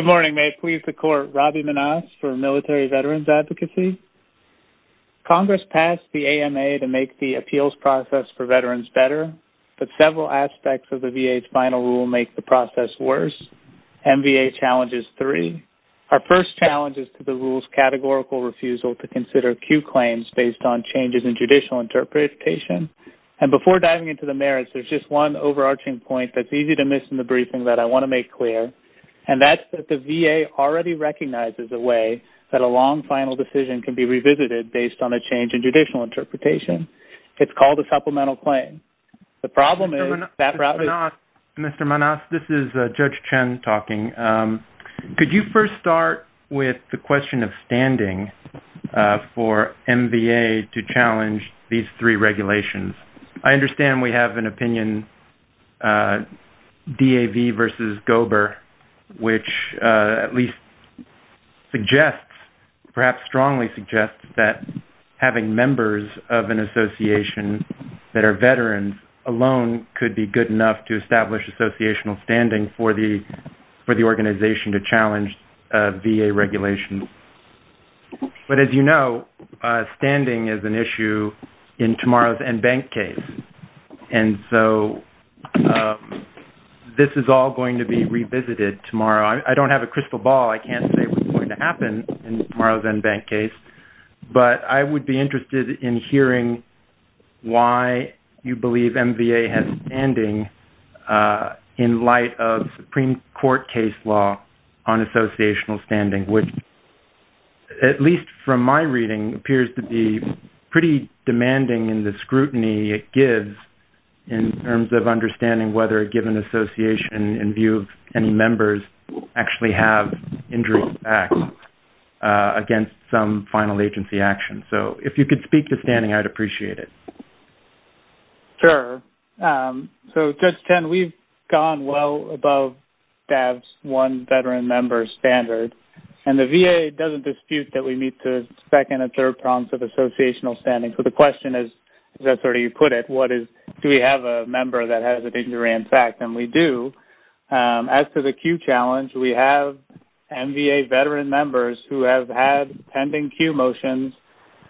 Good morning. May it please the Court, Robbie Manasse for Military-Veterans Advocacy. Congress passed the AMA to make the appeals process for veterans better, but several aspects of the VA's final rule make the process worse. MVA challenges three. Our first challenge is to the rule's categorical refusal to consider acute claims based on changes in judicial interpretation. And before diving into the merits, there's just one overarching point that's easy to miss in the briefing that I want to make clear, and that's that the VA already recognizes the way that a long final decision can be revisited based on a change in judicial interpretation. It's called a supplemental claim. The problem is that route is... Mr. Manasse, this is Judge Chen talking. Could you first start with the question of standing for MVA to challenge these three regulations? I understand we have an opinion DAV v. Gober, which at least suggests, perhaps strongly suggests, that having members of an association that are veterans alone could be good enough to establish associational standing for the organization to challenge VA regulations. But as you know, standing is an issue in tomorrow's NBank case. And so this is all going to be revisited tomorrow. I don't have a crystal ball. I can't say what's going to happen in tomorrow's NBank case, but I would be interested in hearing why you believe MVA has standing in light of Supreme Court case law on associational standing, which, at least from my reading, appears to be pretty demanding in the scrutiny it gives in terms of understanding whether a given association, in view of any members, actually have injury impact against some final agency action. So if you could speak to standing, I'd appreciate it. Sure. So Judge Chen, we've gone well above DAV's one veteran member standard, and the VA doesn't dispute that we need to second and third prompts of associational standing. So the question is, as I've already put it, do we have a member that has an injury impact? And we do. As to the Q challenge, we have MVA veteran members who have had pending Q motions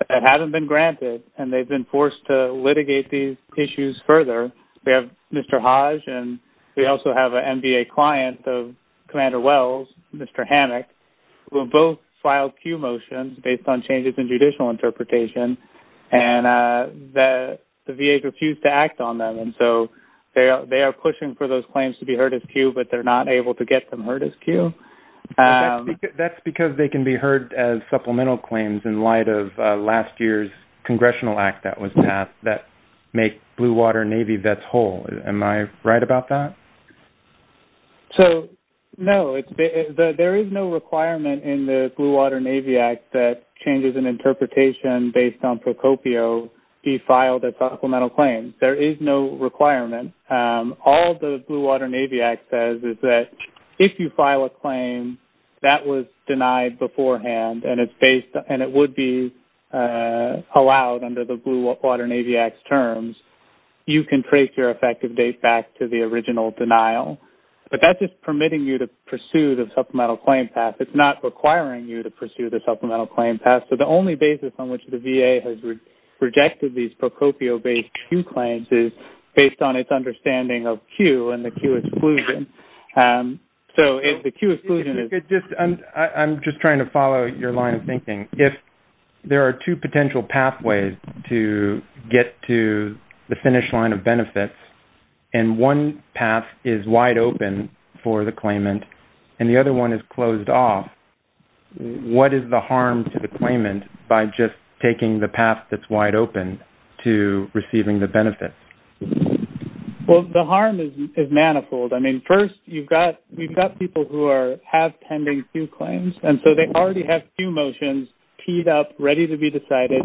that haven't been granted, and they've been forced to litigate these issues further. We have Mr. Hodge, and we also have an MVA client of Commander Wells, Mr. Hammack, who have both filed Q motions based on changes in judicial interpretation, and the VA refused to act on them. And so they are pushing for those claims to be heard as Q, but they're not able to get them heard as Q. That's because they can be heard as supplemental claims in light of last year's congressional act that was passed that make Blue Water Navy vets whole. Am I right about that? So, no. There is no requirement in the interpretation based on Procopio to be filed as supplemental claims. There is no requirement. All the Blue Water Navy Act says is that if you file a claim that was denied beforehand, and it would be allowed under the Blue Water Navy Act's terms, you can trace your effective date back to the original denial. But that's just permitting you to pursue the supplemental claim path. So, the only basis on which the VA has rejected these Procopio-based Q claims is based on its understanding of Q and the Q exclusion. So, if the Q exclusion is... If you could just... I'm just trying to follow your line of thinking. If there are two potential pathways to get to the finish line of benefits, and one path is wide open for the claimant, and the other one is closed off, what is the harm to the claimant by just taking the path that's wide open to receiving the benefits? Well, the harm is manifold. I mean, first, you've got people who have pending Q claims. And so, they already have Q motions teed up, ready to be decided,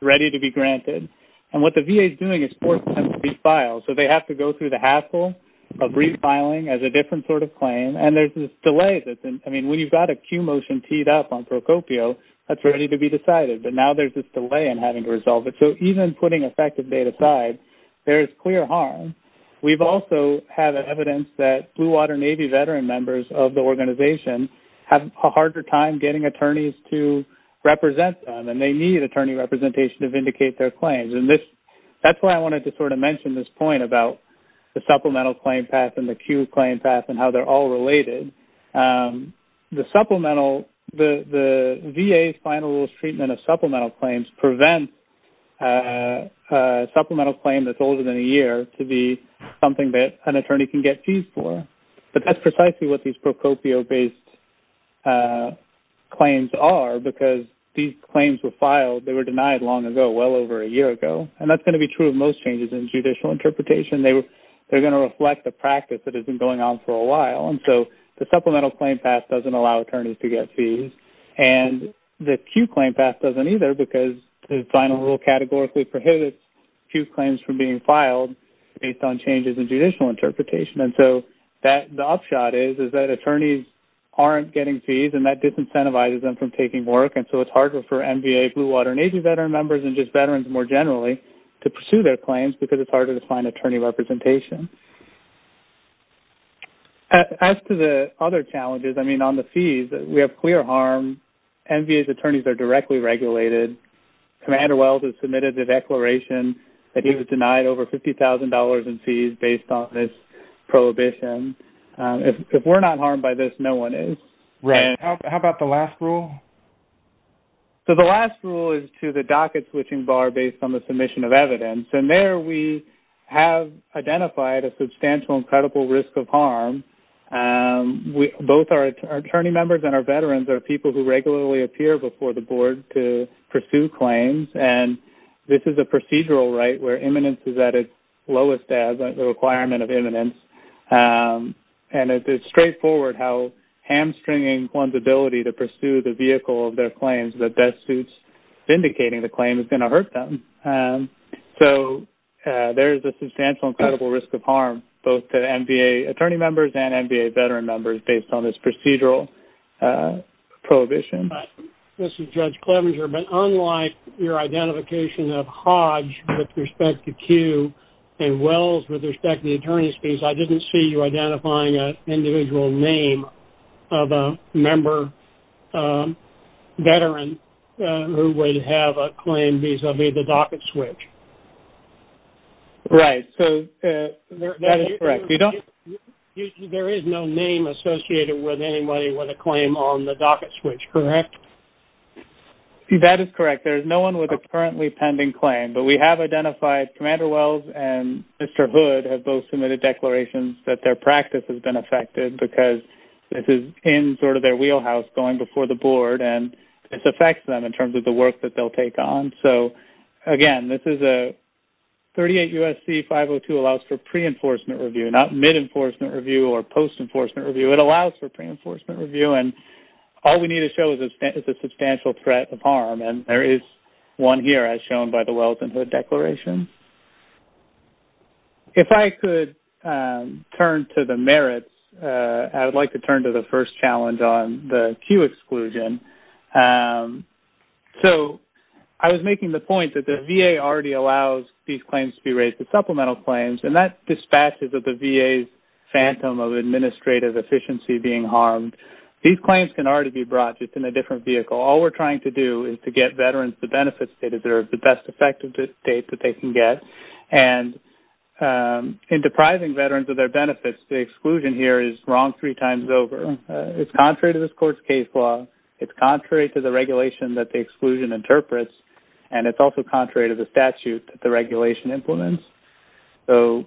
ready to be granted. And what the VA is doing is forcing them to refile. So, they have to go through the hassle of refiling as a different sort of claim. And there's this delay that's... I mean, when you've got a Q motion teed up on Procopio, that's ready to be decided. But now there's this delay in having to resolve it. So, even putting effective date aside, there is clear harm. We've also had evidence that Blue Water Navy veteran members of the organization have a harder time getting attorneys to represent them. And they need attorney representation to vindicate their claims. That's why I wanted to sort of mention this point about the supplemental claim path and the Q claim path and how they're all related. The VA's final treatment of supplemental claims prevents a supplemental claim that's older than a year to be something that an attorney can get fees for. But that's precisely what these Procopio-based claims are because these claims were filed. They were denied long ago, well over a year ago. And that's going to be true of most changes in judicial interpretation. They're going to reflect the practice that has been going on for a while. And so, the supplemental claim path doesn't allow attorneys to get fees. And the Q claim path doesn't either because the final rule categorically prohibits Q claims from being filed based on changes in judicial interpretation. And so, the upshot is that attorneys aren't getting fees and that disincentivizes them from taking work. So, it's harder for MVA, Blue Water Navy veteran members, and just veterans more generally to pursue their claims because it's harder to find attorney representation. As to the other challenges, I mean, on the fees, we have clear harm. MVA's attorneys are directly regulated. Commander Wells has submitted the declaration that he was denied over $50,000 in fees based on this prohibition. If we're not harmed by this, no one is. Right. How about the last rule? So, the last rule is to the docket switching bar based on the submission of evidence. And there, we have identified a substantial and credible risk of harm. Both our attorney members and our veterans are people who regularly appear before the board to pursue claims. And this is a procedural right where imminence is at its lowest as a requirement of imminence. And it's straightforward how hamstringing one's ability to pursue the vehicle of their claims that best suits indicating the claim is going to hurt them. So, there's a substantial and credible risk of harm both to MVA attorney members and MVA veteran members based on this procedural prohibition. This is Judge Clevenger. But unlike your identification of Hodge with respect to Q and Wells with respect to the attorney's fees, I didn't see you identifying an individual name of a member veteran who would have a claim vis-a-vis the docket switch. Right. So, that is correct. You don't... There is no name associated with anybody with a claim on the docket switch, correct? That is correct. There is no one with a currently pending claim. But we have identified Commander Wells and Mr. Hood have both submitted declarations that their practice has been affected because this is in sort of their wheelhouse going before the board. And this affects them in terms of the work that they'll take on. So, again, this is a 38 U.S.C. 502 allows for pre-enforcement review, not mid-enforcement review or post-enforcement review. It allows for pre-enforcement review. And all we need to show is a substantial threat of harm. And there is one here as shown by the Wells and Hood declaration. If I could turn to the merits, I would like to turn to the first challenge on the Q exclusion. So, I was making the point that the VA already allows these claims to be raised as supplemental claims. And that dispatches of the VA's phantom of administrative efficiency being harmed. These claims can already be brought just in a different vehicle. All we're trying to do is to get veterans the benefits they deserve, the best effective state that they can get. And in depriving veterans of their benefits, the exclusion here is wrong three times over. It's contrary to this court's case law. It's contrary to the regulation that the exclusion interprets. And it's also contrary to the statute that the regulation implements. So,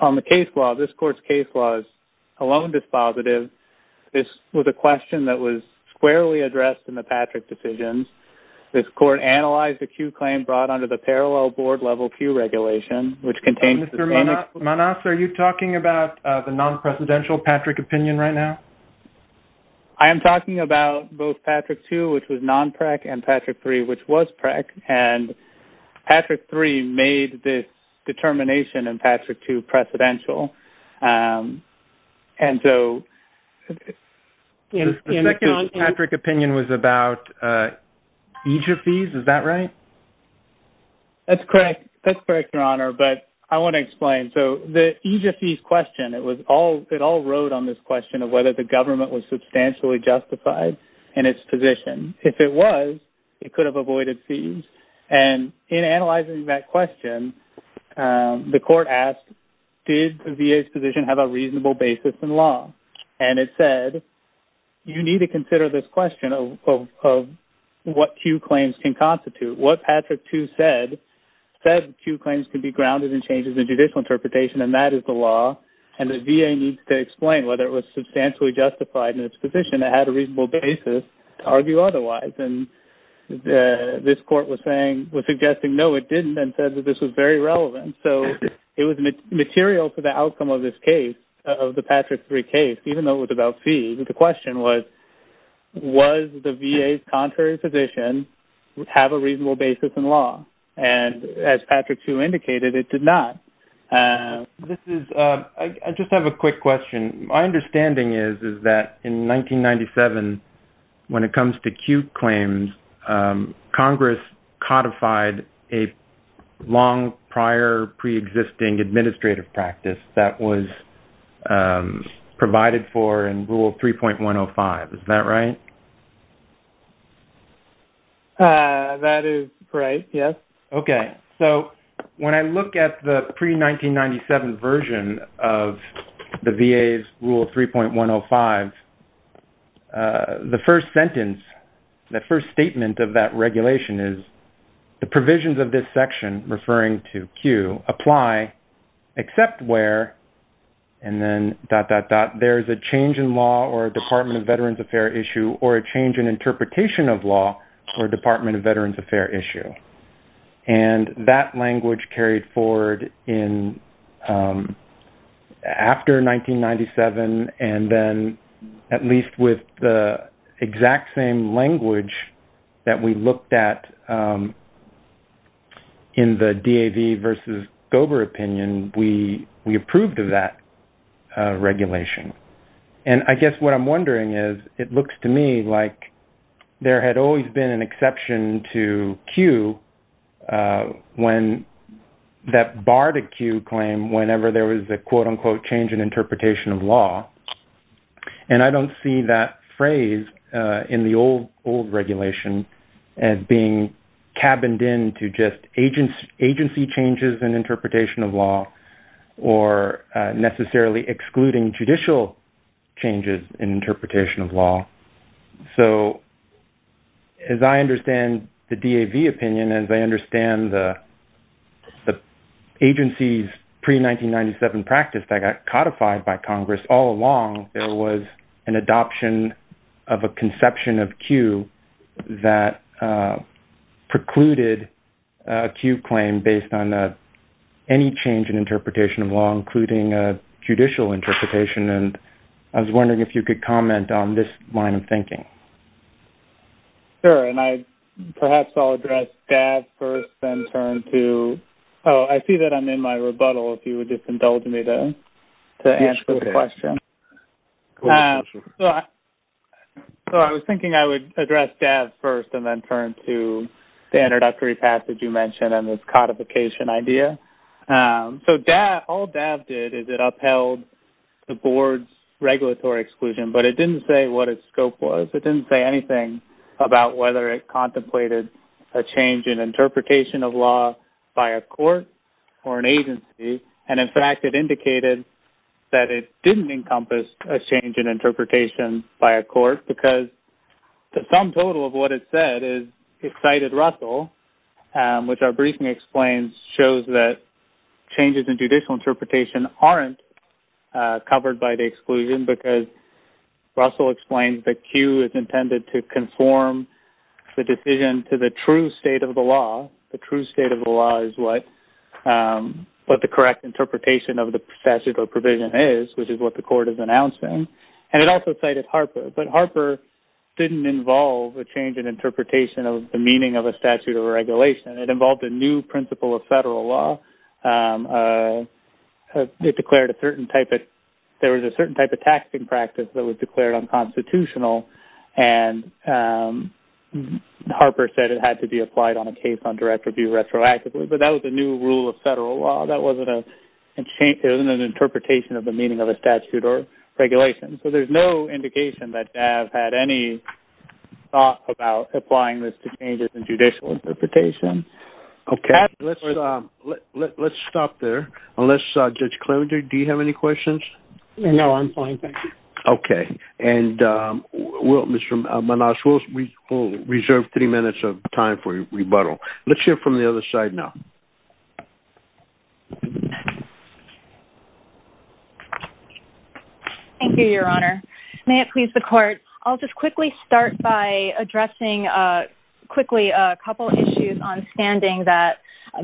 on the case law, this court's case law is alone dispositive. This was a question that was squarely addressed in the Patrick decisions. This court analyzed the Q claim brought under the parallel board level Q regulation, which contains... Mr. Manas, are you talking about the non-presidential Patrick opinion right now? I am talking about both Patrick 2, which was non-PREC, and Patrick 3, which was PREC. And Patrick 3 made this determination in Patrick 2 opinion was about EJIA fees. Is that right? That's correct. That's correct, Your Honor. But I want to explain. So, the EJIA fees question, it all wrote on this question of whether the government was substantially justified in its position. If it was, it could have avoided fees. And in analyzing that question, the court asked, did the VA's position have a reasonable basis in said, you need to consider this question of what Q claims can constitute. What Patrick 2 said, said Q claims can be grounded in changes in judicial interpretation, and that is the law. And the VA needs to explain whether it was substantially justified in its position, it had a reasonable basis to argue otherwise. And this court was saying, was suggesting, no, it didn't, and said that this was very relevant. So, it was material for the outcome of this case, of the Patrick 3 case, even though it was about fees. The question was, was the VA's contrary position have a reasonable basis in law? And as Patrick 2 indicated, it did not. This is, I just have a quick question. My understanding is, is that in 1997, when it comes to Q claims, Congress codified a long prior pre-existing administrative practice that was provided for in Rule 3.105. Is that right? That is correct, yes. Okay. So, when I look at the pre-1997 version of the VA's Rule 3.105, the first sentence, the first statement of that regulation is, the provisions of this section, referring to Q, apply except where, and then dot, dot, dot, there is a change in law or a Department of Veterans Affairs issue or a change in interpretation of law or a Department of Veterans Affairs issue. And that language carried forward in, after 1997, and then at least with the exact same language that we looked at in the DAV versus Gober opinion, we approved of that regulation. And I guess what I'm wondering is, it looks to me like there had always been an exception to Q when that barred a Q claim whenever there was a quote-unquote change in interpretation of law. And I don't see that phrase in the old regulation as being cabined in to just agency changes in interpretation of law or necessarily excluding judicial changes in interpretation of law. So, as I understand the DAV opinion, as I understand the agency's pre-1997 practice that got codified by Congress all along, there was an adoption of a conception of Q that precluded a Q claim based on any change in interpretation of law, including a judicial interpretation. And I was wondering if you could comment on this line of thinking. Sure. And I, perhaps I'll address DAV first and turn to... Oh, I see that I'm in my rebuttal, if you would just indulge me to answer the question. Cool. Sure. So, I was thinking I would address DAV first and then turn to the introductory passage you mentioned and this codification idea. So, all DAV did is it upheld the board's regulatory exclusion, but it didn't say what its scope was. It didn't say anything about whether it contemplated a change in interpretation of law by a court or an agency. And in fact, it indicated that it didn't encompass a change in interpretation by a court because the sum total of what it said is excited Russell, which our briefing explains, shows that changes in judicial interpretation aren't covered by the exclusion because Russell explains that Q is intended to conform the decision to the true state of the law. The true state of the law is what the correct interpretation of the statute or provision is, which is what the court is announcing. And it also cited Harper, but Harper didn't involve a change in interpretation of the meaning of a statute or regulation. It involved a new principle of federal law. It declared a certain type of... There was a certain type of taxing practice that was declared unconstitutional and Harper said it had to be applied on a case on direct review retroactively, but that was a new rule of federal law. That wasn't an interpretation of the meaning of a statute or regulation. So, there's no indication that DAV had any thought about applying this to changes in judicial interpretation. Okay. Let's stop there. Unless, Judge Clemenger, do you have any questions? No, I'm fine. Thank you. Okay. And Mr. Manasseh, we'll reserve three minutes of time for rebuttal. Let's hear from the other side now. Thank you, Your Honor. May it please the court, I'll just quickly start by addressing quickly a couple of issues on standing that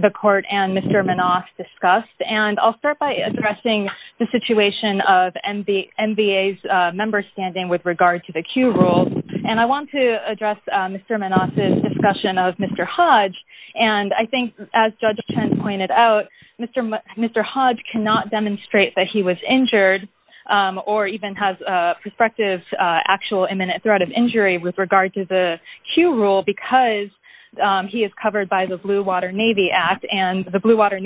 the court and Mr. Manasseh discussed. And I'll start by addressing the situation of NBA's member standing with regard to the Q rule. And I want to address Mr. Manasseh's discussion of Mr. Hodge. And I think as Judge Chen pointed out, Mr. Hodge cannot demonstrate that he was injured or even has a prospective actual imminent threat of injury with regard to the Q rule because he is covered by the Blue Water Navy Act. And the Blue Water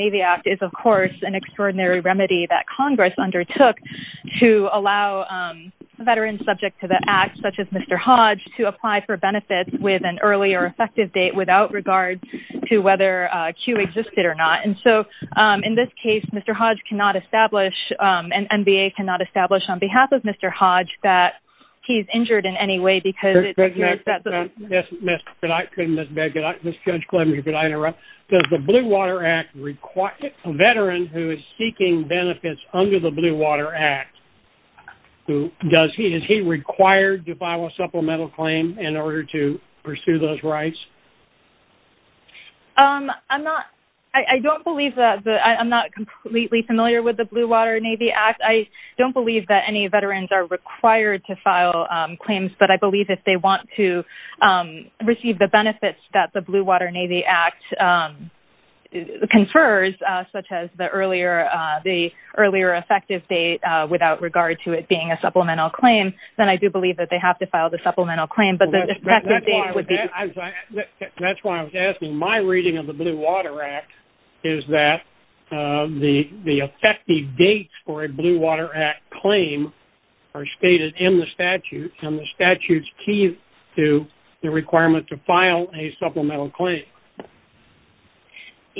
remedy that Congress undertook to allow veterans subject to the act, such as Mr. Hodge, to apply for benefits with an early or effective date without regard to whether Q existed or not. And so, in this case, Mr. Hodge cannot establish and NBA cannot establish on behalf of Mr. Hodge that he's injured in any way because it appears that the- under the Blue Water Act, does he-is he required to file a supplemental claim in order to pursue those rights? I'm not-I don't believe that-I'm not completely familiar with the Blue Water Navy Act. I don't believe that any veterans are required to file claims, but I believe if they want to the earlier effective date without regard to it being a supplemental claim, then I do believe that they have to file the supplemental claim, but the effective date- That's why I was asking. My reading of the Blue Water Act is that the effective dates for a Blue Water Act claim are stated in the statute, and the statute's key to the requirement to file a supplemental claim.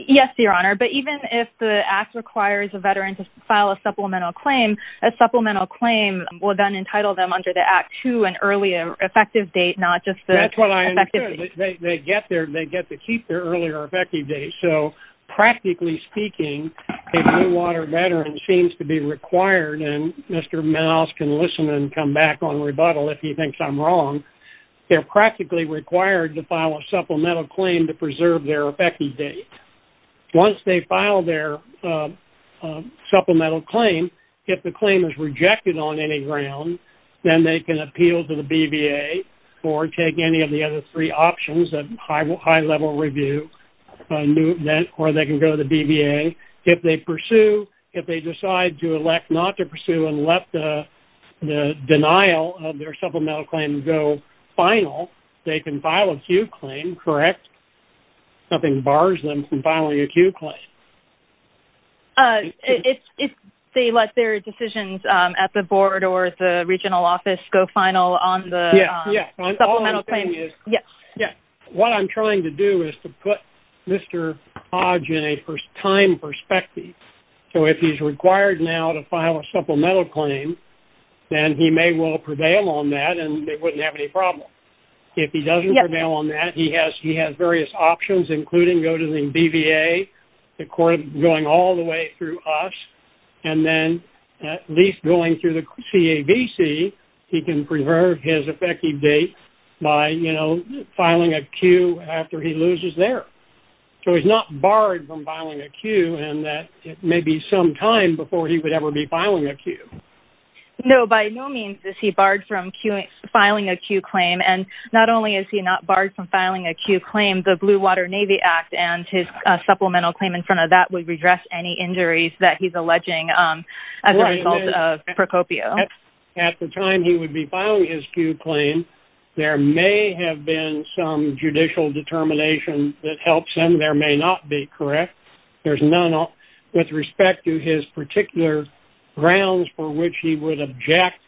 Yes, Your Honor, but even if the Act requires a veteran to file a supplemental claim, a supplemental claim will then entitle them under the Act to an earlier effective date, not just the effective date. That's what I understood. They get their-they get to keep their earlier effective date. So, practically speaking, a Blue Water veteran seems to be required, and Mr. Miles can listen and come back on rebuttal if he thinks I'm wrong, they're practically required to file a supplemental claim to preserve their effective date. Once they file their supplemental claim, if the claim is rejected on any ground, then they can appeal to the BVA or take any of the other three options of high-level review, or they can go to the BVA. If they pursue-if they decide to elect not to pursue and let the final, they can file a Q claim, correct? Nothing bars them from filing a Q claim. If they let their decisions at the board or the regional office go final on the supplemental claim. Yes. Yes. What I'm trying to do is to put Mr. Hodge in a first-time perspective. So, if he's required now to file a supplemental claim, then he may well prevail on that, and they wouldn't have any problem. If he doesn't prevail on that, he has various options, including going to the BVA, going all the way through us, and then at least going through the CAVC, he can preserve his effective date by, you know, filing a Q after he loses there. So, he's not barred from filing a Q, and that may be some time before he would ever be filing a Q. No. By no means is he barred from filing a Q claim, and not only is he not barred from filing a Q claim, the Blue Water Navy Act and his supplemental claim in front of that would redress any injuries that he's alleging as a result of Procopio. At the time he would be filing his Q claim, there may have been some judicial determination that helps him. There may not be, correct? There's none with respect to his particular grounds for which he would object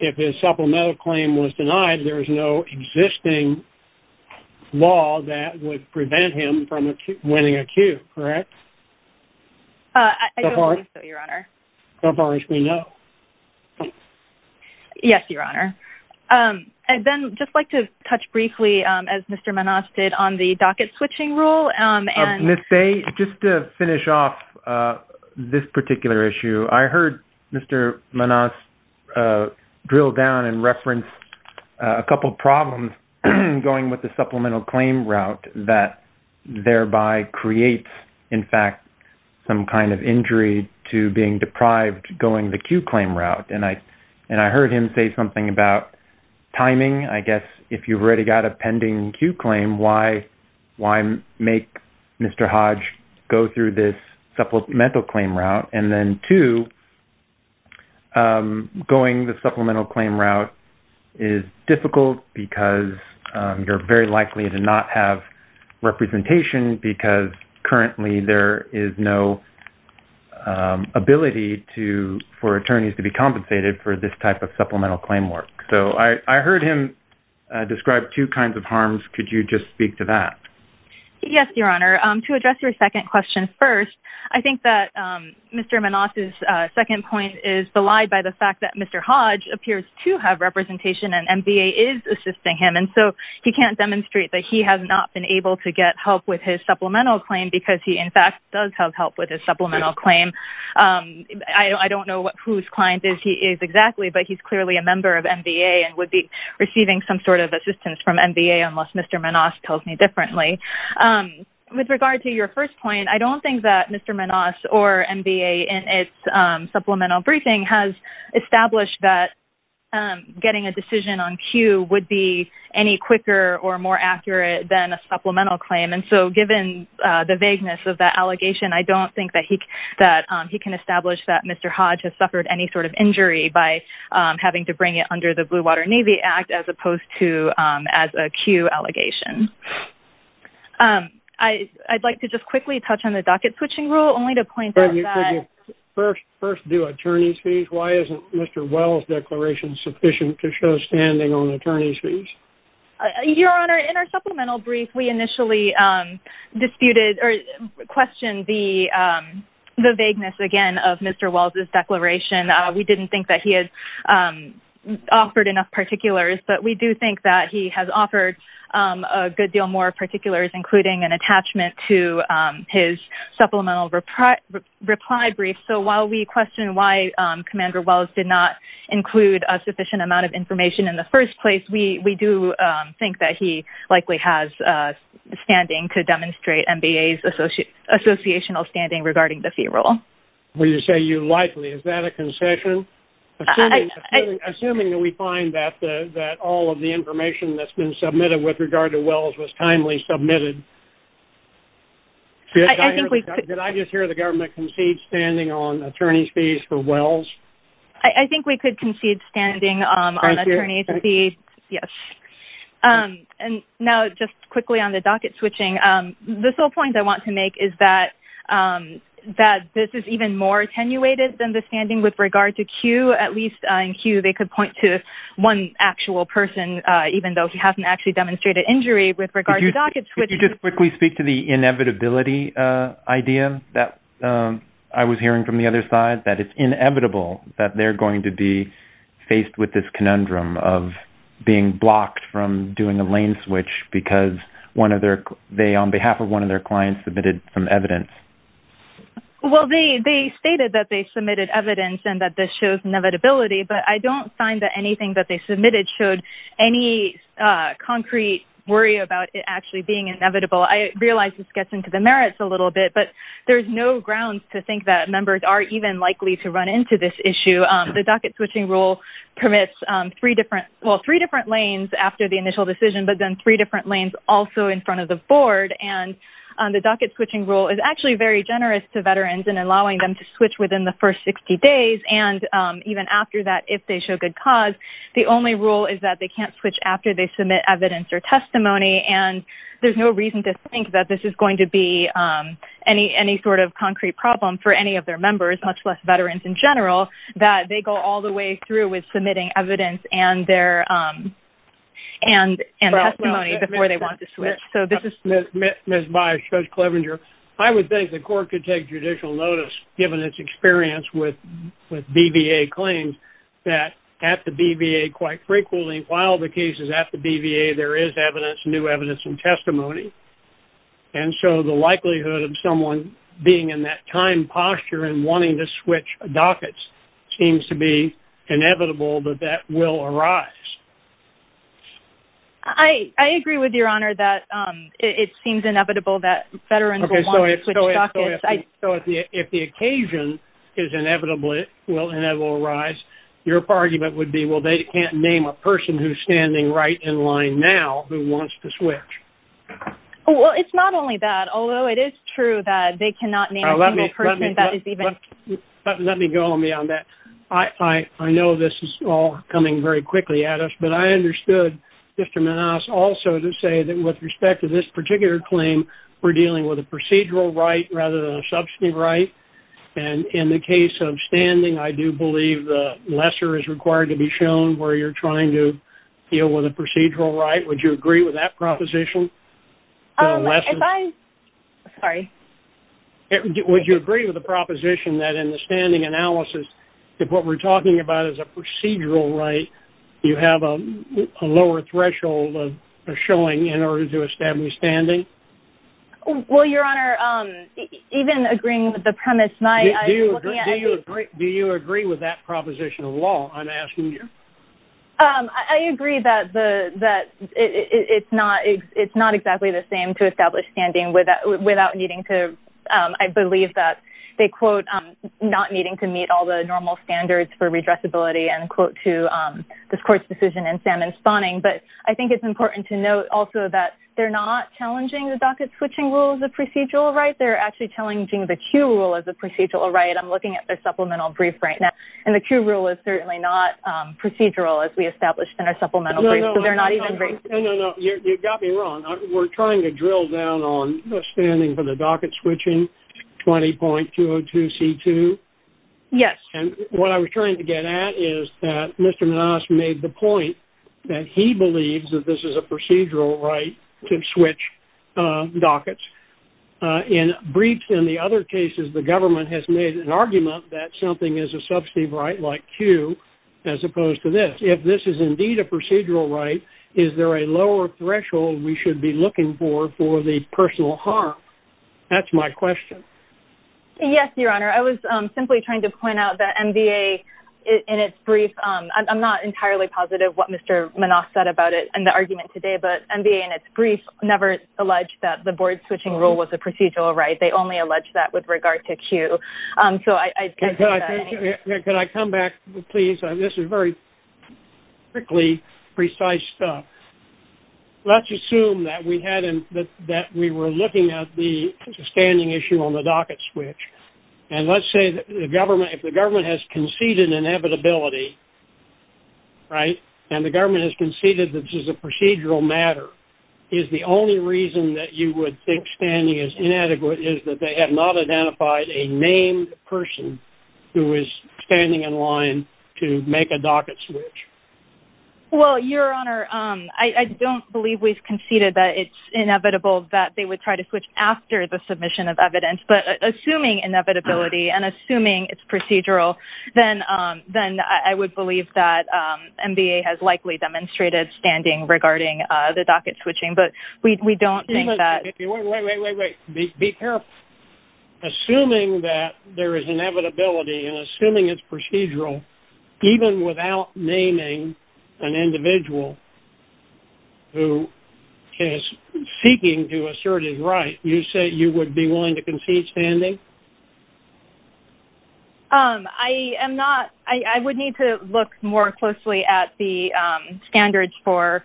if his supplemental claim was denied. There's no existing law that would prevent him from winning a Q, correct? I don't think so, Your Honor. So far as we know. Yes, Your Honor. I'd then just like to touch briefly, as Mr. Manasseh did, on the docket switching rule. Ms. Bae, just to finish off this particular issue, I heard Mr. Manasseh drill down and reference a couple problems going with the supplemental claim route that thereby creates, in fact, some kind of injury to being deprived going the Q claim route. And I heard him say something about timing. I guess if you've already got a pending Q claim, why make Mr. Hodge go through this supplemental claim route? And then two, going the supplemental claim route is difficult because you're very likely to not have representation because currently there is no ability for attorneys to be compensated for this type of supplemental claim work. So I heard him describe two kinds of harms. Could you just speak to that? Yes, Your Honor. To address your second question first, I think that Mr. Manasseh's second point is belied by the fact that Mr. Hodge appears to have representation and NBA is assisting him. And so he can't demonstrate that he has not been able to get help with his supplemental claim because he, in fact, does have help with his supplemental claim. I don't know whose client he is exactly, but he's clearly a member of NBA and would be receiving some sort of assistance from NBA unless Mr. Manasseh tells me differently. With regard to your first point, I don't think that Mr. Manasseh or NBA in its supplemental briefing has established that getting a decision on Q would be any quicker or more accurate than a supplemental claim. And so given the vagueness of that allegation, I don't think that he can establish that Mr. Hodge has suffered any sort of injury by having to bring it under the Blue Water Navy Act as opposed to as a Q allegation. I'd like to just quickly touch on the docket switching rule only to point out that... Could you first do attorney's fees? Why isn't Mr. Wells' declaration sufficient to show standing on attorney's fees? Your Honor, in our supplemental brief, we initially disputed or questioned the vagueness, again, of Mr. Wells' declaration. We didn't think that he had offered enough particulars, but we do think that he has offered a good deal more particulars, including an attachment to his supplemental reply brief. So while we question why Commander Wells did not include a sufficient amount of information in the first place, we do think that he likely has standing to demonstrate NBA's associational standing regarding the fee rule. When you say you likely, is that a concession? Assuming that we find that all of the information that's been submitted with regard to Wells was timely submitted, did I just hear the government concede standing on attorney's fees for Wells? I think we could concede standing on attorney's fees. Thank you. Yes. And now just quickly on the docket switching, the sole point I want to make is that this is even more attenuated than the standing with regard to Q. At least in Q, they could point to one actual person, even though he hasn't actually demonstrated injury with regard to the docket switching. Could you just quickly speak to the inevitability idea that I was hearing from the other side, that it's inevitable that they're going to be faced with this conundrum of being blocked from doing a lane switch because they, on behalf of one of their clients, submitted some evidence? Well, they stated that they submitted evidence and that this shows inevitability, but I don't find that anything that they submitted showed any concrete worry about it actually being inevitable. I realize this gets into the merits a little bit, but there's no grounds to think that members are even likely to run into this issue. The docket switching rule permits three different, well, three different lanes after the initial decision, but then three different lanes also in front of the board. And the docket switching rule is actually very generous to veterans in allowing them to switch within the first 60 days. And even after that, if they show good cause, the only rule is that they can't switch after they and there's no reason to think that this is going to be any sort of concrete problem for any of their members, much less veterans in general, that they go all the way through with submitting evidence and testimony before they want to switch. So this is- Ms. Bias, Judge Clevenger, I would think the court could take judicial notice, given its experience with BVA claims, that at the BVA quite frequently while the case is at the BVA, there is evidence, new evidence and testimony. And so the likelihood of someone being in that time posture and wanting to switch dockets seems to be inevitable that that will arise. I agree with your honor that it seems inevitable that veterans- So if the occasion is inevitable, it will arise. Your argument would be, well, they can't name a person who's standing right in line now who wants to switch. Well, it's not only that, although it is true that they cannot name a single person that is even- Let me go on beyond that. I know this is all coming very quickly at us, but I understood Mr. Manasse also to say that with respect to this particular claim, we're dealing with a procedural right rather than a substantive right. And in the case of standing, I do believe the lesser is required to be shown where you're trying to deal with a procedural right. Would you agree with that proposition? If I- Sorry. Would you agree with the proposition that in the standing analysis, if what we're talking about is a procedural right, you have a lower threshold of showing in order to establish standing? Well, your honor, even agreeing with the proposition of law, I'm asking you? I agree that it's not exactly the same to establish standing without needing to- I believe that they, quote, not needing to meet all the normal standards for redressability and, quote, to this court's decision in salmon spawning. But I think it's important to note also that they're not challenging the docket switching rule as a procedural right. They're actually challenging the Q rule as a procedural right. I'm looking at their supplemental brief right now, and the Q rule is certainly not procedural as we established in our supplemental brief, so they're not even briefed. No, no, no. You got me wrong. We're trying to drill down on standing for the docket switching, 20.202C2? Yes. And what I was trying to get at is that Mr. Manasseh made the point that he believes that this is a procedural right to switch dockets. In briefs and the other cases the government has made an argument that something is a substantive right like Q as opposed to this. If this is indeed a procedural right, is there a lower threshold we should be looking for for the personal harm? That's my question. Yes, Your Honor. I was simply trying to point out that MVA in its brief- I'm not entirely positive what Mr. Manasseh said about it in the argument today, but MVA in its brief never alleged that the board switching rule was a procedural right. They only alleged that with regard to Q. Can I come back, please? This is very quickly precise stuff. Let's assume that we were looking at the standing issue on the docket switch, and let's say that if the government has conceded an inevitability, right, and the government has conceded that this is a procedural matter, is the only reason that you would think is that they have not identified a named person who is standing in line to make a docket switch? Well, Your Honor, I don't believe we've conceded that it's inevitable that they would try to switch after the submission of evidence, but assuming inevitability and assuming it's procedural, then I would believe that MVA has likely demonstrated standing regarding the docket switching, but we don't think that- Wait, wait, wait, wait. Be careful. Assuming that there is inevitability and assuming it's procedural, even without naming an individual who is seeking to assert his right, you say you would be willing to concede standing? I am not. I would need to look more closely at the standards for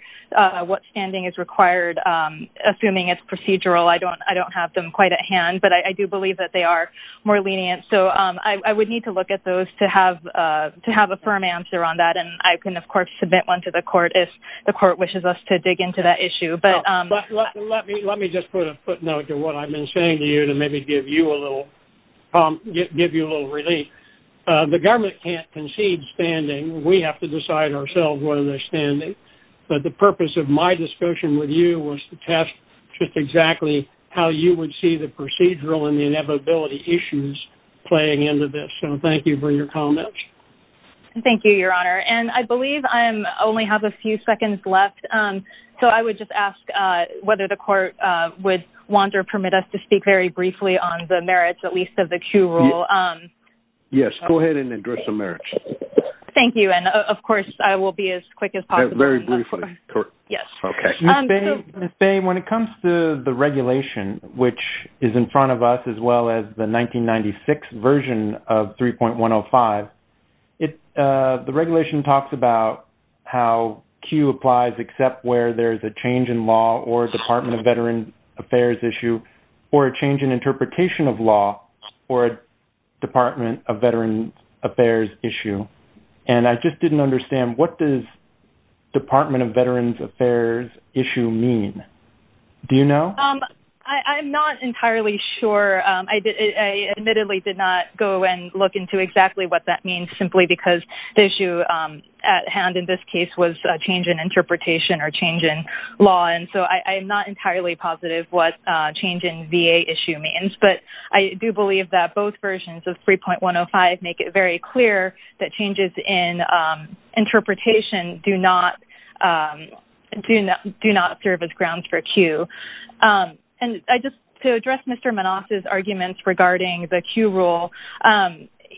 what standing is required. Assuming it's procedural, I don't have them quite at hand, but I do believe that they are more lenient, so I would need to look at those to have a firm answer on that, and I can, of course, submit one to the court if the court wishes us to dig into that issue, but- Well, let me just put a footnote to what I've been saying to you to maybe give you a little prompt, give you a little relief. The government can't concede standing. We have to decide ourselves whether they're standing, but the purpose of my discussion with you was to test just exactly how you would see the procedural and the inevitability issues playing into this, so thank you for your comments. Thank you, Your Honor, and I believe I only have a few seconds left, so I would just ask whether the court would want or permit us to at least have the Q rule. Yes, go ahead and address the merits. Thank you, and of course, I will be as quick as possible. Very briefly. Yes. Okay. Ms. Bay, when it comes to the regulation, which is in front of us as well as the 1996 version of 3.105, the regulation talks about how Q applies except where there's a change in law or Department of Veterans Affairs issue or a change in interpretation of law or a Department of Veterans Affairs issue, and I just didn't understand what does Department of Veterans Affairs issue mean? Do you know? I'm not entirely sure. I admittedly did not go and look into exactly what that means simply because the issue at hand in this case was a change in interpretation or change in law, and so I'm not entirely positive what change in VA issue means, but I do believe that both versions of 3.105 make it very clear that changes in interpretation do not serve as grounds for Q, and just to address Mr. Manoff's arguments regarding the Q rule,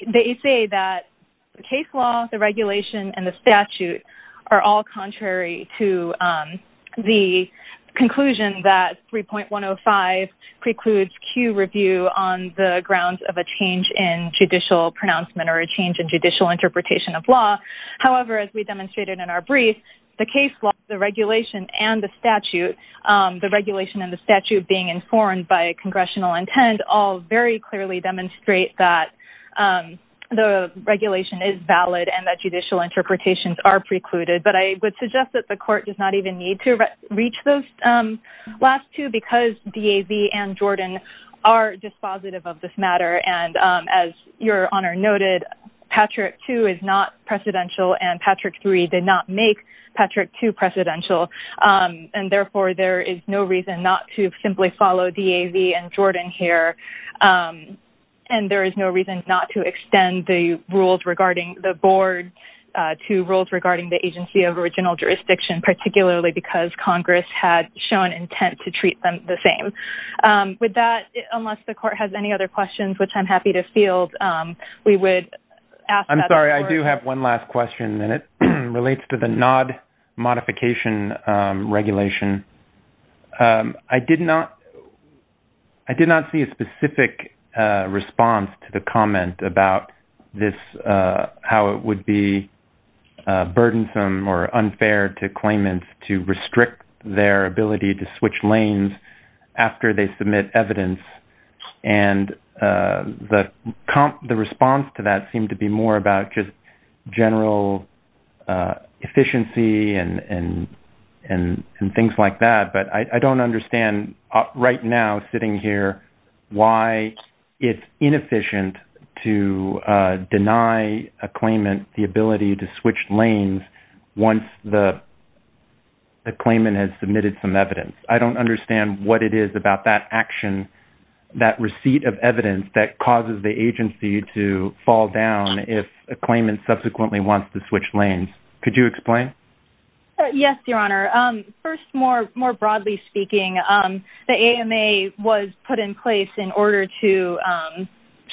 they say that case law, the regulation, and the statute are all contrary to the conclusion that 3.105 precludes Q review on the grounds of a change in judicial pronouncement or a change in judicial interpretation of law. However, as we demonstrated in our brief, the case law, the regulation, and the statute, the regulation and the statute being informed by congressional intent all very clearly demonstrate that the regulation is valid and that judicial interpretations are precluded, but I would suggest that the court does not even need to reach those last two because DAV and Jordan are dispositive of this matter, and as Your Honor noted, Patrick 2 is not precedential, and Patrick 3 did not make Patrick 2 precedential, and therefore, there is no reason not to simply follow DAV and Jordan here, and there is no reason not to extend the rules regarding the board to rules regarding the agency of original jurisdiction, particularly because Congress had shown intent to treat them the same. With that, unless the court has any other questions, which I'm happy to field, we would ask I'm sorry, I do have one last question, and it relates to the NOD modification regulation. I did not see a specific response to the comment about this, how it would be burdensome or unfair to claimants to restrict their ability to switch lanes after they submit evidence, and the response to that seemed to be more about just general efficiency and things like that, but I don't understand right now sitting here why it's inefficient to deny a claimant the ability to switch lanes once the claimant has submitted some evidence. I don't understand what it is about that action, that receipt of evidence that causes the agency to fall down if a claimant subsequently wants to switch lanes. Could you explain? Yes, Your Honor. First, more broadly speaking, the AMA was put in place in order to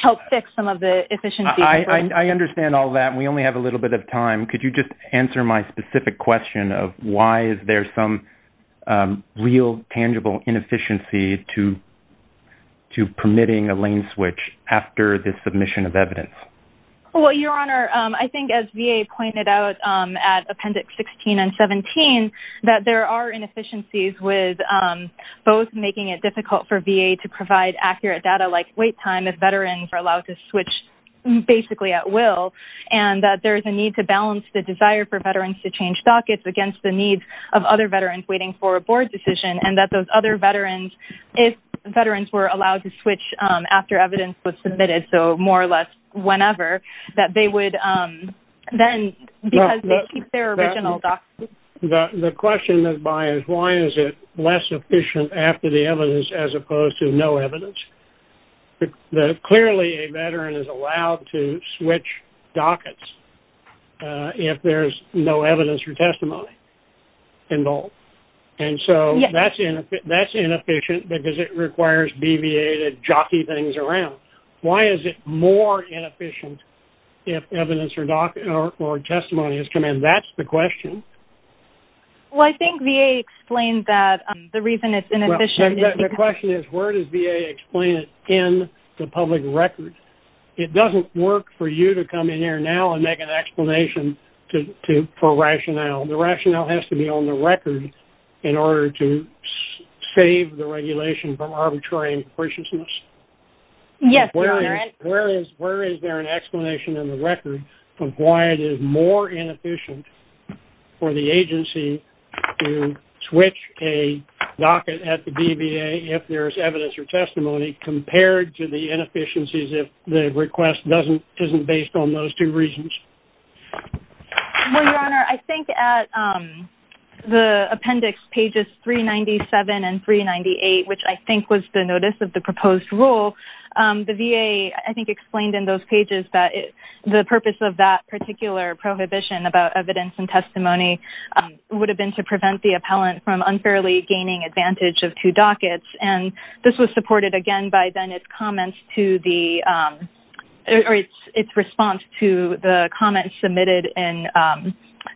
help fix some of the efficiencies. I understand all that, and we only have a little bit of time. Could you just answer my specific question of why is there some real tangible inefficiency to permitting a lane switch after the submission of evidence? Well, Your Honor, I think as VA pointed out at Appendix 16 and 17, that there are inefficiencies with both making it difficult for VA to provide accurate data like wait time if veterans are allowed to switch basically at will, and that there's a need to balance the desire for veterans to change dockets against the needs of other veterans waiting for a board decision, and that those other veterans, if veterans were allowed to switch after evidence was submitted, so more or less whenever, that they would then, because they keep their original dockets. The question is why is it less efficient after the evidence as opposed to no evidence? Clearly, a veteran is allowed to switch dockets if there's no evidence or testimony involved, and so that's inefficient because it requires VA to jockey things around. Why is it more inefficient if evidence or testimony has come in? That's the question. Well, I think VA explained that the reason it's inefficient... The question is where does VA explain it in the public record? It doesn't work for you to come in here now and make an explanation for rationale. The rationale has to be on the record in order to save the regulation from arbitrary impreciousness. Yes, your honor. Where is there an explanation in the record of why it is more inefficient for the agency to switch a docket at the BVA if there's evidence or testimony compared to the inefficiencies if the request isn't based on those two reasons? Well, your honor, I think at the appendix pages 397 and 398, which I think was the notice of the proposed rule, the VA, I think, explained in those pages that the purpose of that particular prohibition about evidence and testimony would have been to prevent the appellant from unfairly advantage of two dockets. And this was supported again by then its response to the comments submitted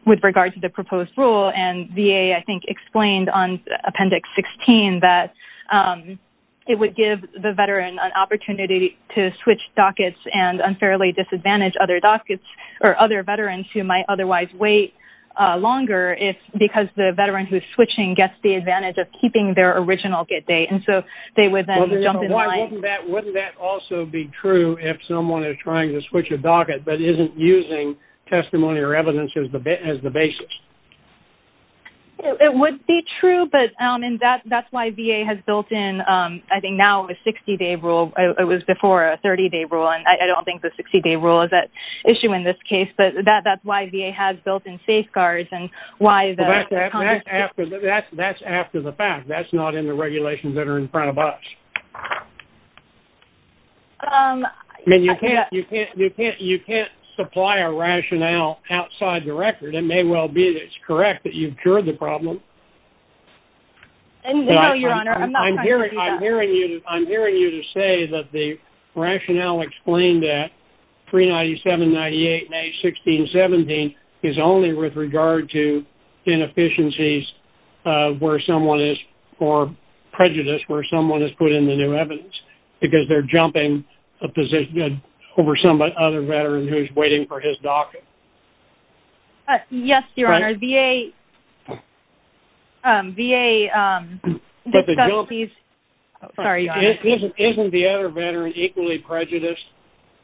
with regard to the proposed rule. And VA, I think, explained on appendix 16 that it would give the veteran an opportunity to switch dockets and unfairly disadvantage other dockets or other veterans who might otherwise wait longer because the veteran who's switching gets the advantage of keeping their original get date. And so, they would then jump in line. Wouldn't that also be true if someone is trying to switch a docket but isn't using testimony or evidence as the basis? It would be true, but that's why VA has built in, I think, now a 60-day rule. It was before a 30-day rule. And I don't think the 60-day rule is at issue in this case. But that's why VA has built in safeguards and why the... That's after the fact. That's not in the regulations that are in front of us. I mean, you can't supply a rationale outside the record. It may well be that it's correct that you've cured the problem. No, Your Honor. I'm not trying to do that. I'm hearing you to say that the rationale explained at 397, 98, 16, 17 is only with regard to inefficiencies where someone is...or prejudice where someone has put in the new evidence because they're jumping a position over some other veteran who's waiting for his docket. Yes, Your Honor. VA... VA... Isn't the other veteran equally prejudiced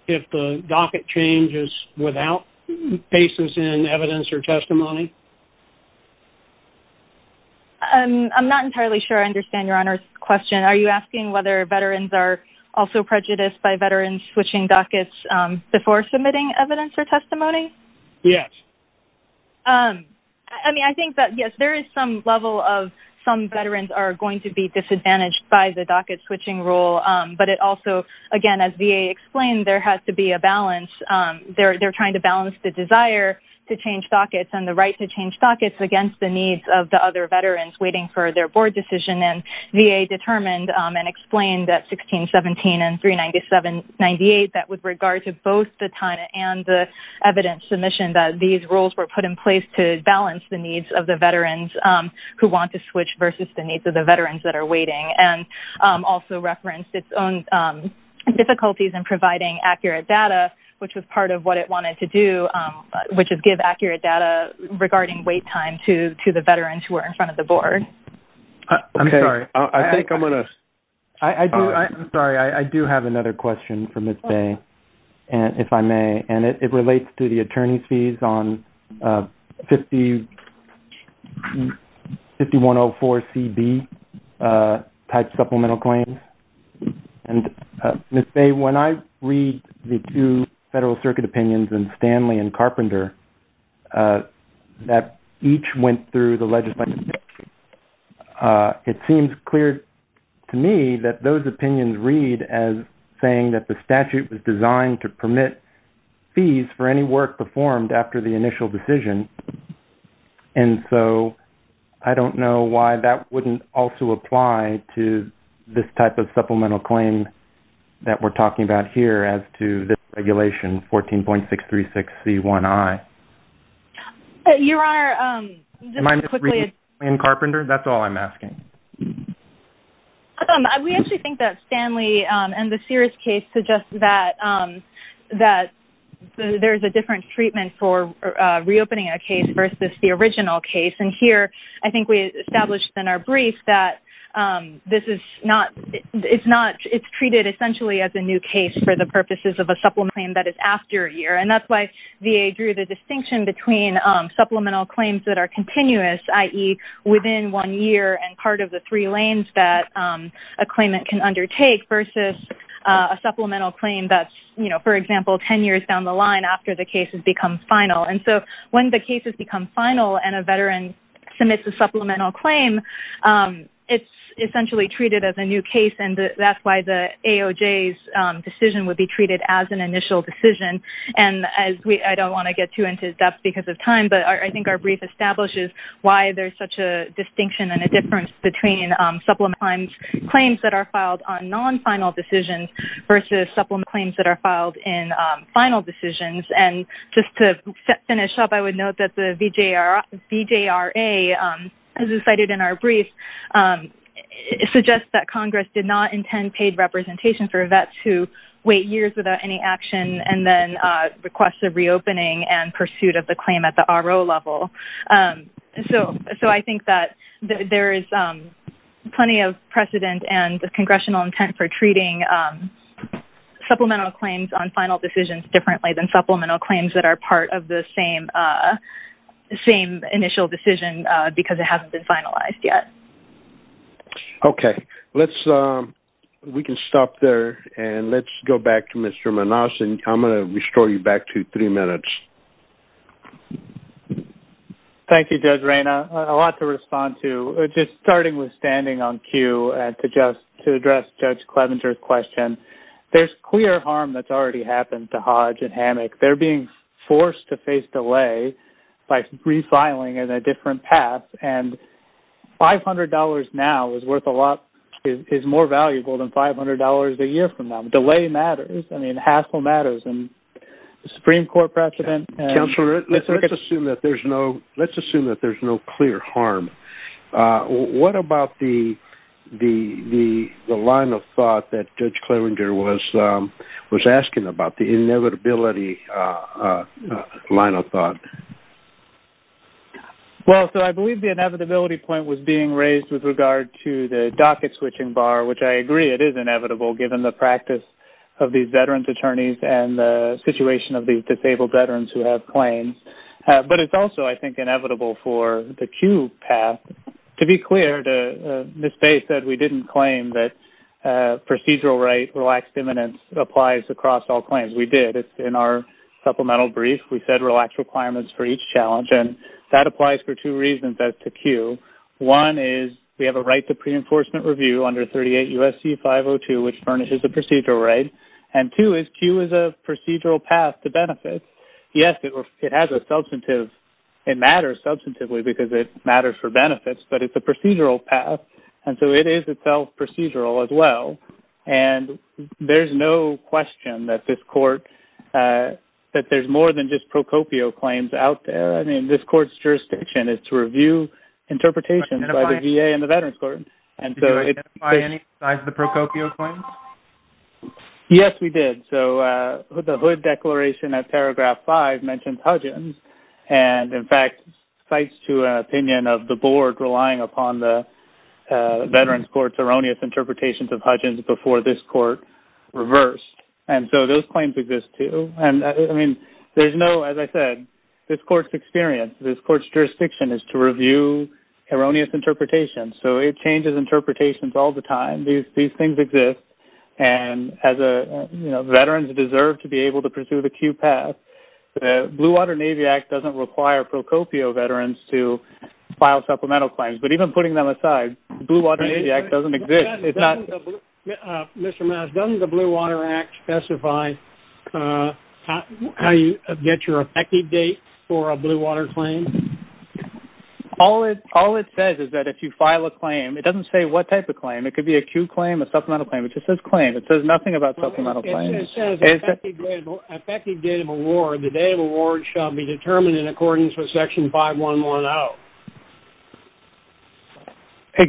if the docket changes without basis in evidence or testimony? I'm not entirely sure I understand Your Honor's question. Are you asking whether veterans are also prejudiced by veterans switching dockets before submitting evidence or testimony? Yes. I mean, I think that, yes, there is some level of some veterans are going to be disadvantaged by the docket switching rule. But it also, again, as VA explained, there has to be a balance. They're trying to balance the desire to change dockets and the right to change dockets against the needs of the other veterans waiting for their board decision. And VA determined and explained that 16, 17 and 397, 98 that with regard to both the time and the evidence submission that these rules were put in place to balance the needs of the veterans who want to switch versus the needs of the veterans that are waiting. And also referenced its own difficulties in providing accurate data, which was part of what it wanted to do, which is give accurate data regarding wait time to the veterans who are in front of the board. I'm sorry. I think I'm going to... I'm sorry. I do have another question for Ms. Bay, if I may. And it relates to the attorney's on 5104CB type supplemental claims. And Ms. Bay, when I read the two Federal Circuit opinions in Stanley and Carpenter that each went through the legislative, it seems clear to me that those opinions read as saying that the statute was designed to permit fees for any work performed after the initial decision. And so I don't know why that wouldn't also apply to this type of supplemental claim that we're talking about here as to this regulation, 14.636C1I. Your Honor, just to quickly... Am I misreading Carpenter? That's all I'm asking. We actually think that Stanley and the Sears case suggests that there's a different treatment for reopening a case versus the original case. And here, I think we established in our brief that this is not... It's treated essentially as a new case for the purposes of a supplement claim that is after a year. And that's why VA drew the distinction between supplemental claims that are continuous, i.e. within one year and part of the three lanes that a claimant can undertake versus a supplemental claim that's, you know, for example, 10 years down the line after the final. And so when the cases become final and a veteran submits a supplemental claim, it's essentially treated as a new case. And that's why the AOJ's decision would be treated as an initial decision. And I don't want to get too into depth because of time, but I think our brief establishes why there's such a distinction and a difference between supplemental claims that are filed on non-final decisions versus supplemental claims that are filed in final decisions. And just to finish up, I would note that the VJRA, as cited in our brief, suggests that Congress did not intend paid representation for vets who wait years without any action and then request a reopening and pursuit of the claim at the RO level. So I think that there is plenty of precedent and the congressional intent for treating supplemental claims on final decisions differently than supplemental claims that are part of the same initial decision because it hasn't been finalized yet. Okay. Let's, we can stop there and let's go back to Mr. Manas and I'm going to restore you back to three minutes. Thank you, Judge Rayna. A lot to respond to, just starting with standing on cue to address Judge Clevenger's question. There's clear harm that's already happened to Hodge and Hammock. They're being forced to face delay by refiling in a different path. And $500 now is worth a lot, is more valuable than $500 a year from now. Delay matters. I mean, hassle matters. And the Supreme Court precedent- Let's assume that there's no clear harm. What about the line of thought that Judge Clevenger was asking about, the inevitability line of thought? Well, so I believe the inevitability point was being raised with regard to the docket switching bar, which I agree it is inevitable given the practice of these veterans' attorneys and the situation of these disabled veterans who have claims. But it's also, I think, inevitable for the Q path. To be clear, Ms. Faye said we didn't claim that procedural right relaxed eminence applies across all claims. We did. It's in our supplemental brief. We said relaxed requirements for each challenge and that applies for two reasons as to Q. One is we have a right to pre-enforcement review under 38 U.S.C. 502, which furnishes the procedural right. And two is Q is a procedural path to benefits. Yes, it has a substantive... It matters substantively because it matters for benefits, but it's a procedural path. And so it is itself procedural as well. And there's no question that this court... That there's more than just Pro Copio claims out there. I mean, this court's jurisdiction is to review interpretations by the VA and the VA. Did you identify any besides the Pro Copio claims? Yes, we did. So the hood declaration at paragraph five mentions Hudgins. And in fact, cites to an opinion of the board relying upon the veterans' court's erroneous interpretations of Hudgins before this court reversed. And so those claims exist too. And I mean, there's no, as I said, this court's experience, this court's jurisdiction is to review erroneous interpretations. So it changes interpretations all the time. These things exist. And as a, you know, veterans deserve to be able to pursue the Q path. The Blue Water Navy Act doesn't require Pro Copio veterans to file supplemental claims. But even putting them aside, Blue Water Navy Act doesn't exist. It's not... Mr. Maas, doesn't the Blue Water Act specify how you get your effective date for a Blue Water claim? All it says is that if you file a claim, it doesn't say what type of claim. It could be a Q claim, a supplemental claim. It just says claim. It says nothing about supplemental claims. It just says effective date of award. The date of award shall be determined in accordance with section 5110.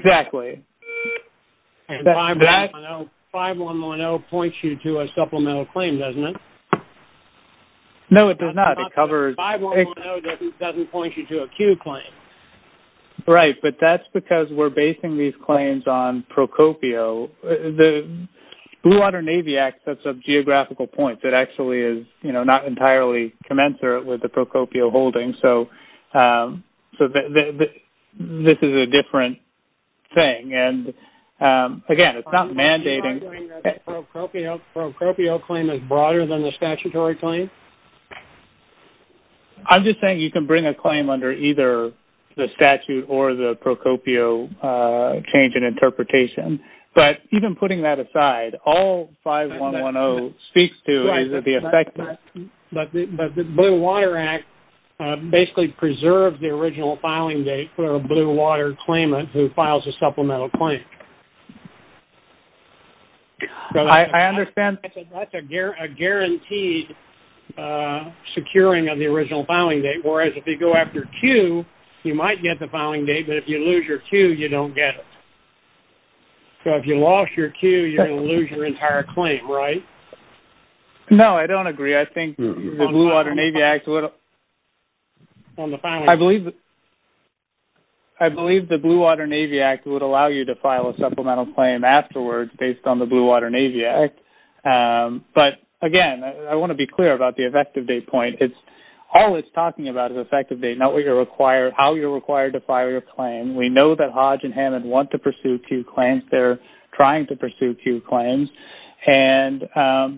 Exactly. And 5110 points you to a supplemental claim, doesn't it? No, it does not. It covers... 5110 doesn't point you to a Q claim. Right. But that's because we're basing these claims on Pro Copio. The Blue Water Navy Act sets up geographical points. It actually is, you know, not entirely commensurate with the Pro Copio holding. So this is a different thing. And again, it's not mandating... Pro Copio claim is broader than the statutory claim? I'm just saying you can bring a claim under either the statute or the Pro Copio change in interpretation. But even putting that aside, all 5110 speaks to is that the effective... But the Blue Water Act basically preserves the original filing date for a Blue Water claimant who files a supplemental claim. I understand... That's a guaranteed securing of the original filing date. Whereas if you go after Q, you might get the filing date. But if you lose your Q, you don't get it. So if you lost your Q, you're going to lose your entire claim, right? No, I don't agree. I think the Blue Water Navy Act would... I believe... I believe the Blue Water Navy Act would allow you to file a supplemental claim afterwards based on the Blue Water Navy Act. But again, I want to be clear about the effective date point. All it's talking about is effective date, not how you're required to file your claim. We know that Hodge and Hammond want to pursue Q claims. They're trying to pursue Q claims. And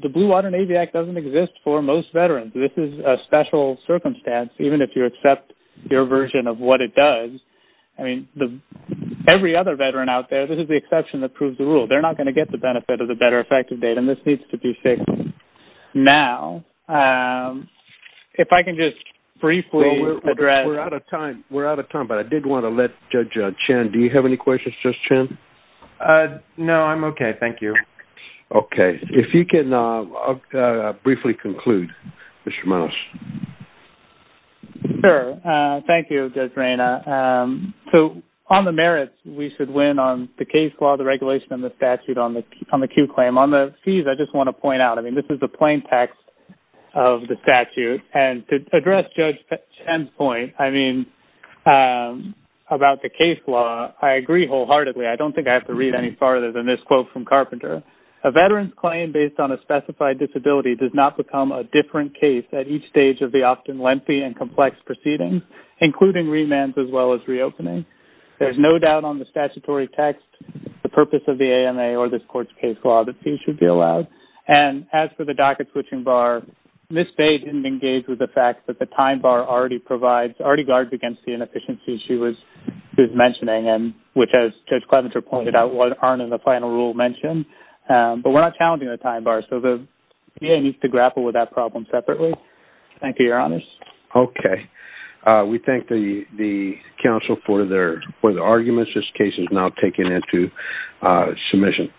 the Blue Water Navy Act doesn't exist for most veterans. This is a special circumstance, even if you accept your version of what it does. I mean, every other veteran out there, this is the exception that proves the rule. They're not going to get the benefit of the better effective date, and this needs to be fixed now. If I can just briefly address... Well, we're out of time. We're out of time, but I did want to let Judge Chen... Do you have any questions, Judge Chen? No, I'm okay. Thank you. Okay. If you can briefly conclude, Mr. Munoz. Sure. Thank you, Judge Reyna. So, on the merits, we should win on the case law, the regulation, and the statute on the Q claim. On the fees, I just want to point out, I mean, this is the plain text of the statute. And to address Judge Chen's point, I mean, about the case law, I agree wholeheartedly. I don't think I have to read any farther than this quote from Carpenter. A veteran's claim based on a specified disability does not become a different case at each stage of the often lengthy and complex proceedings, including remands as well as reopening. There's no doubt on the statutory text, the purpose of the AMA or this court's case law that fees should be allowed. And as for the docket switching bar, Ms. Bay didn't engage with the fact that the time bar already provides... Already guards against the inefficiencies she was mentioning, which, as Judge Clevenser pointed out, aren't in the final rule mentioned. But we're not challenging the time bar, so the VA needs to grapple with that problem separately. Thank you, Your Honors. Okay. We thank the counsel for their arguments. This case is now taken into submission.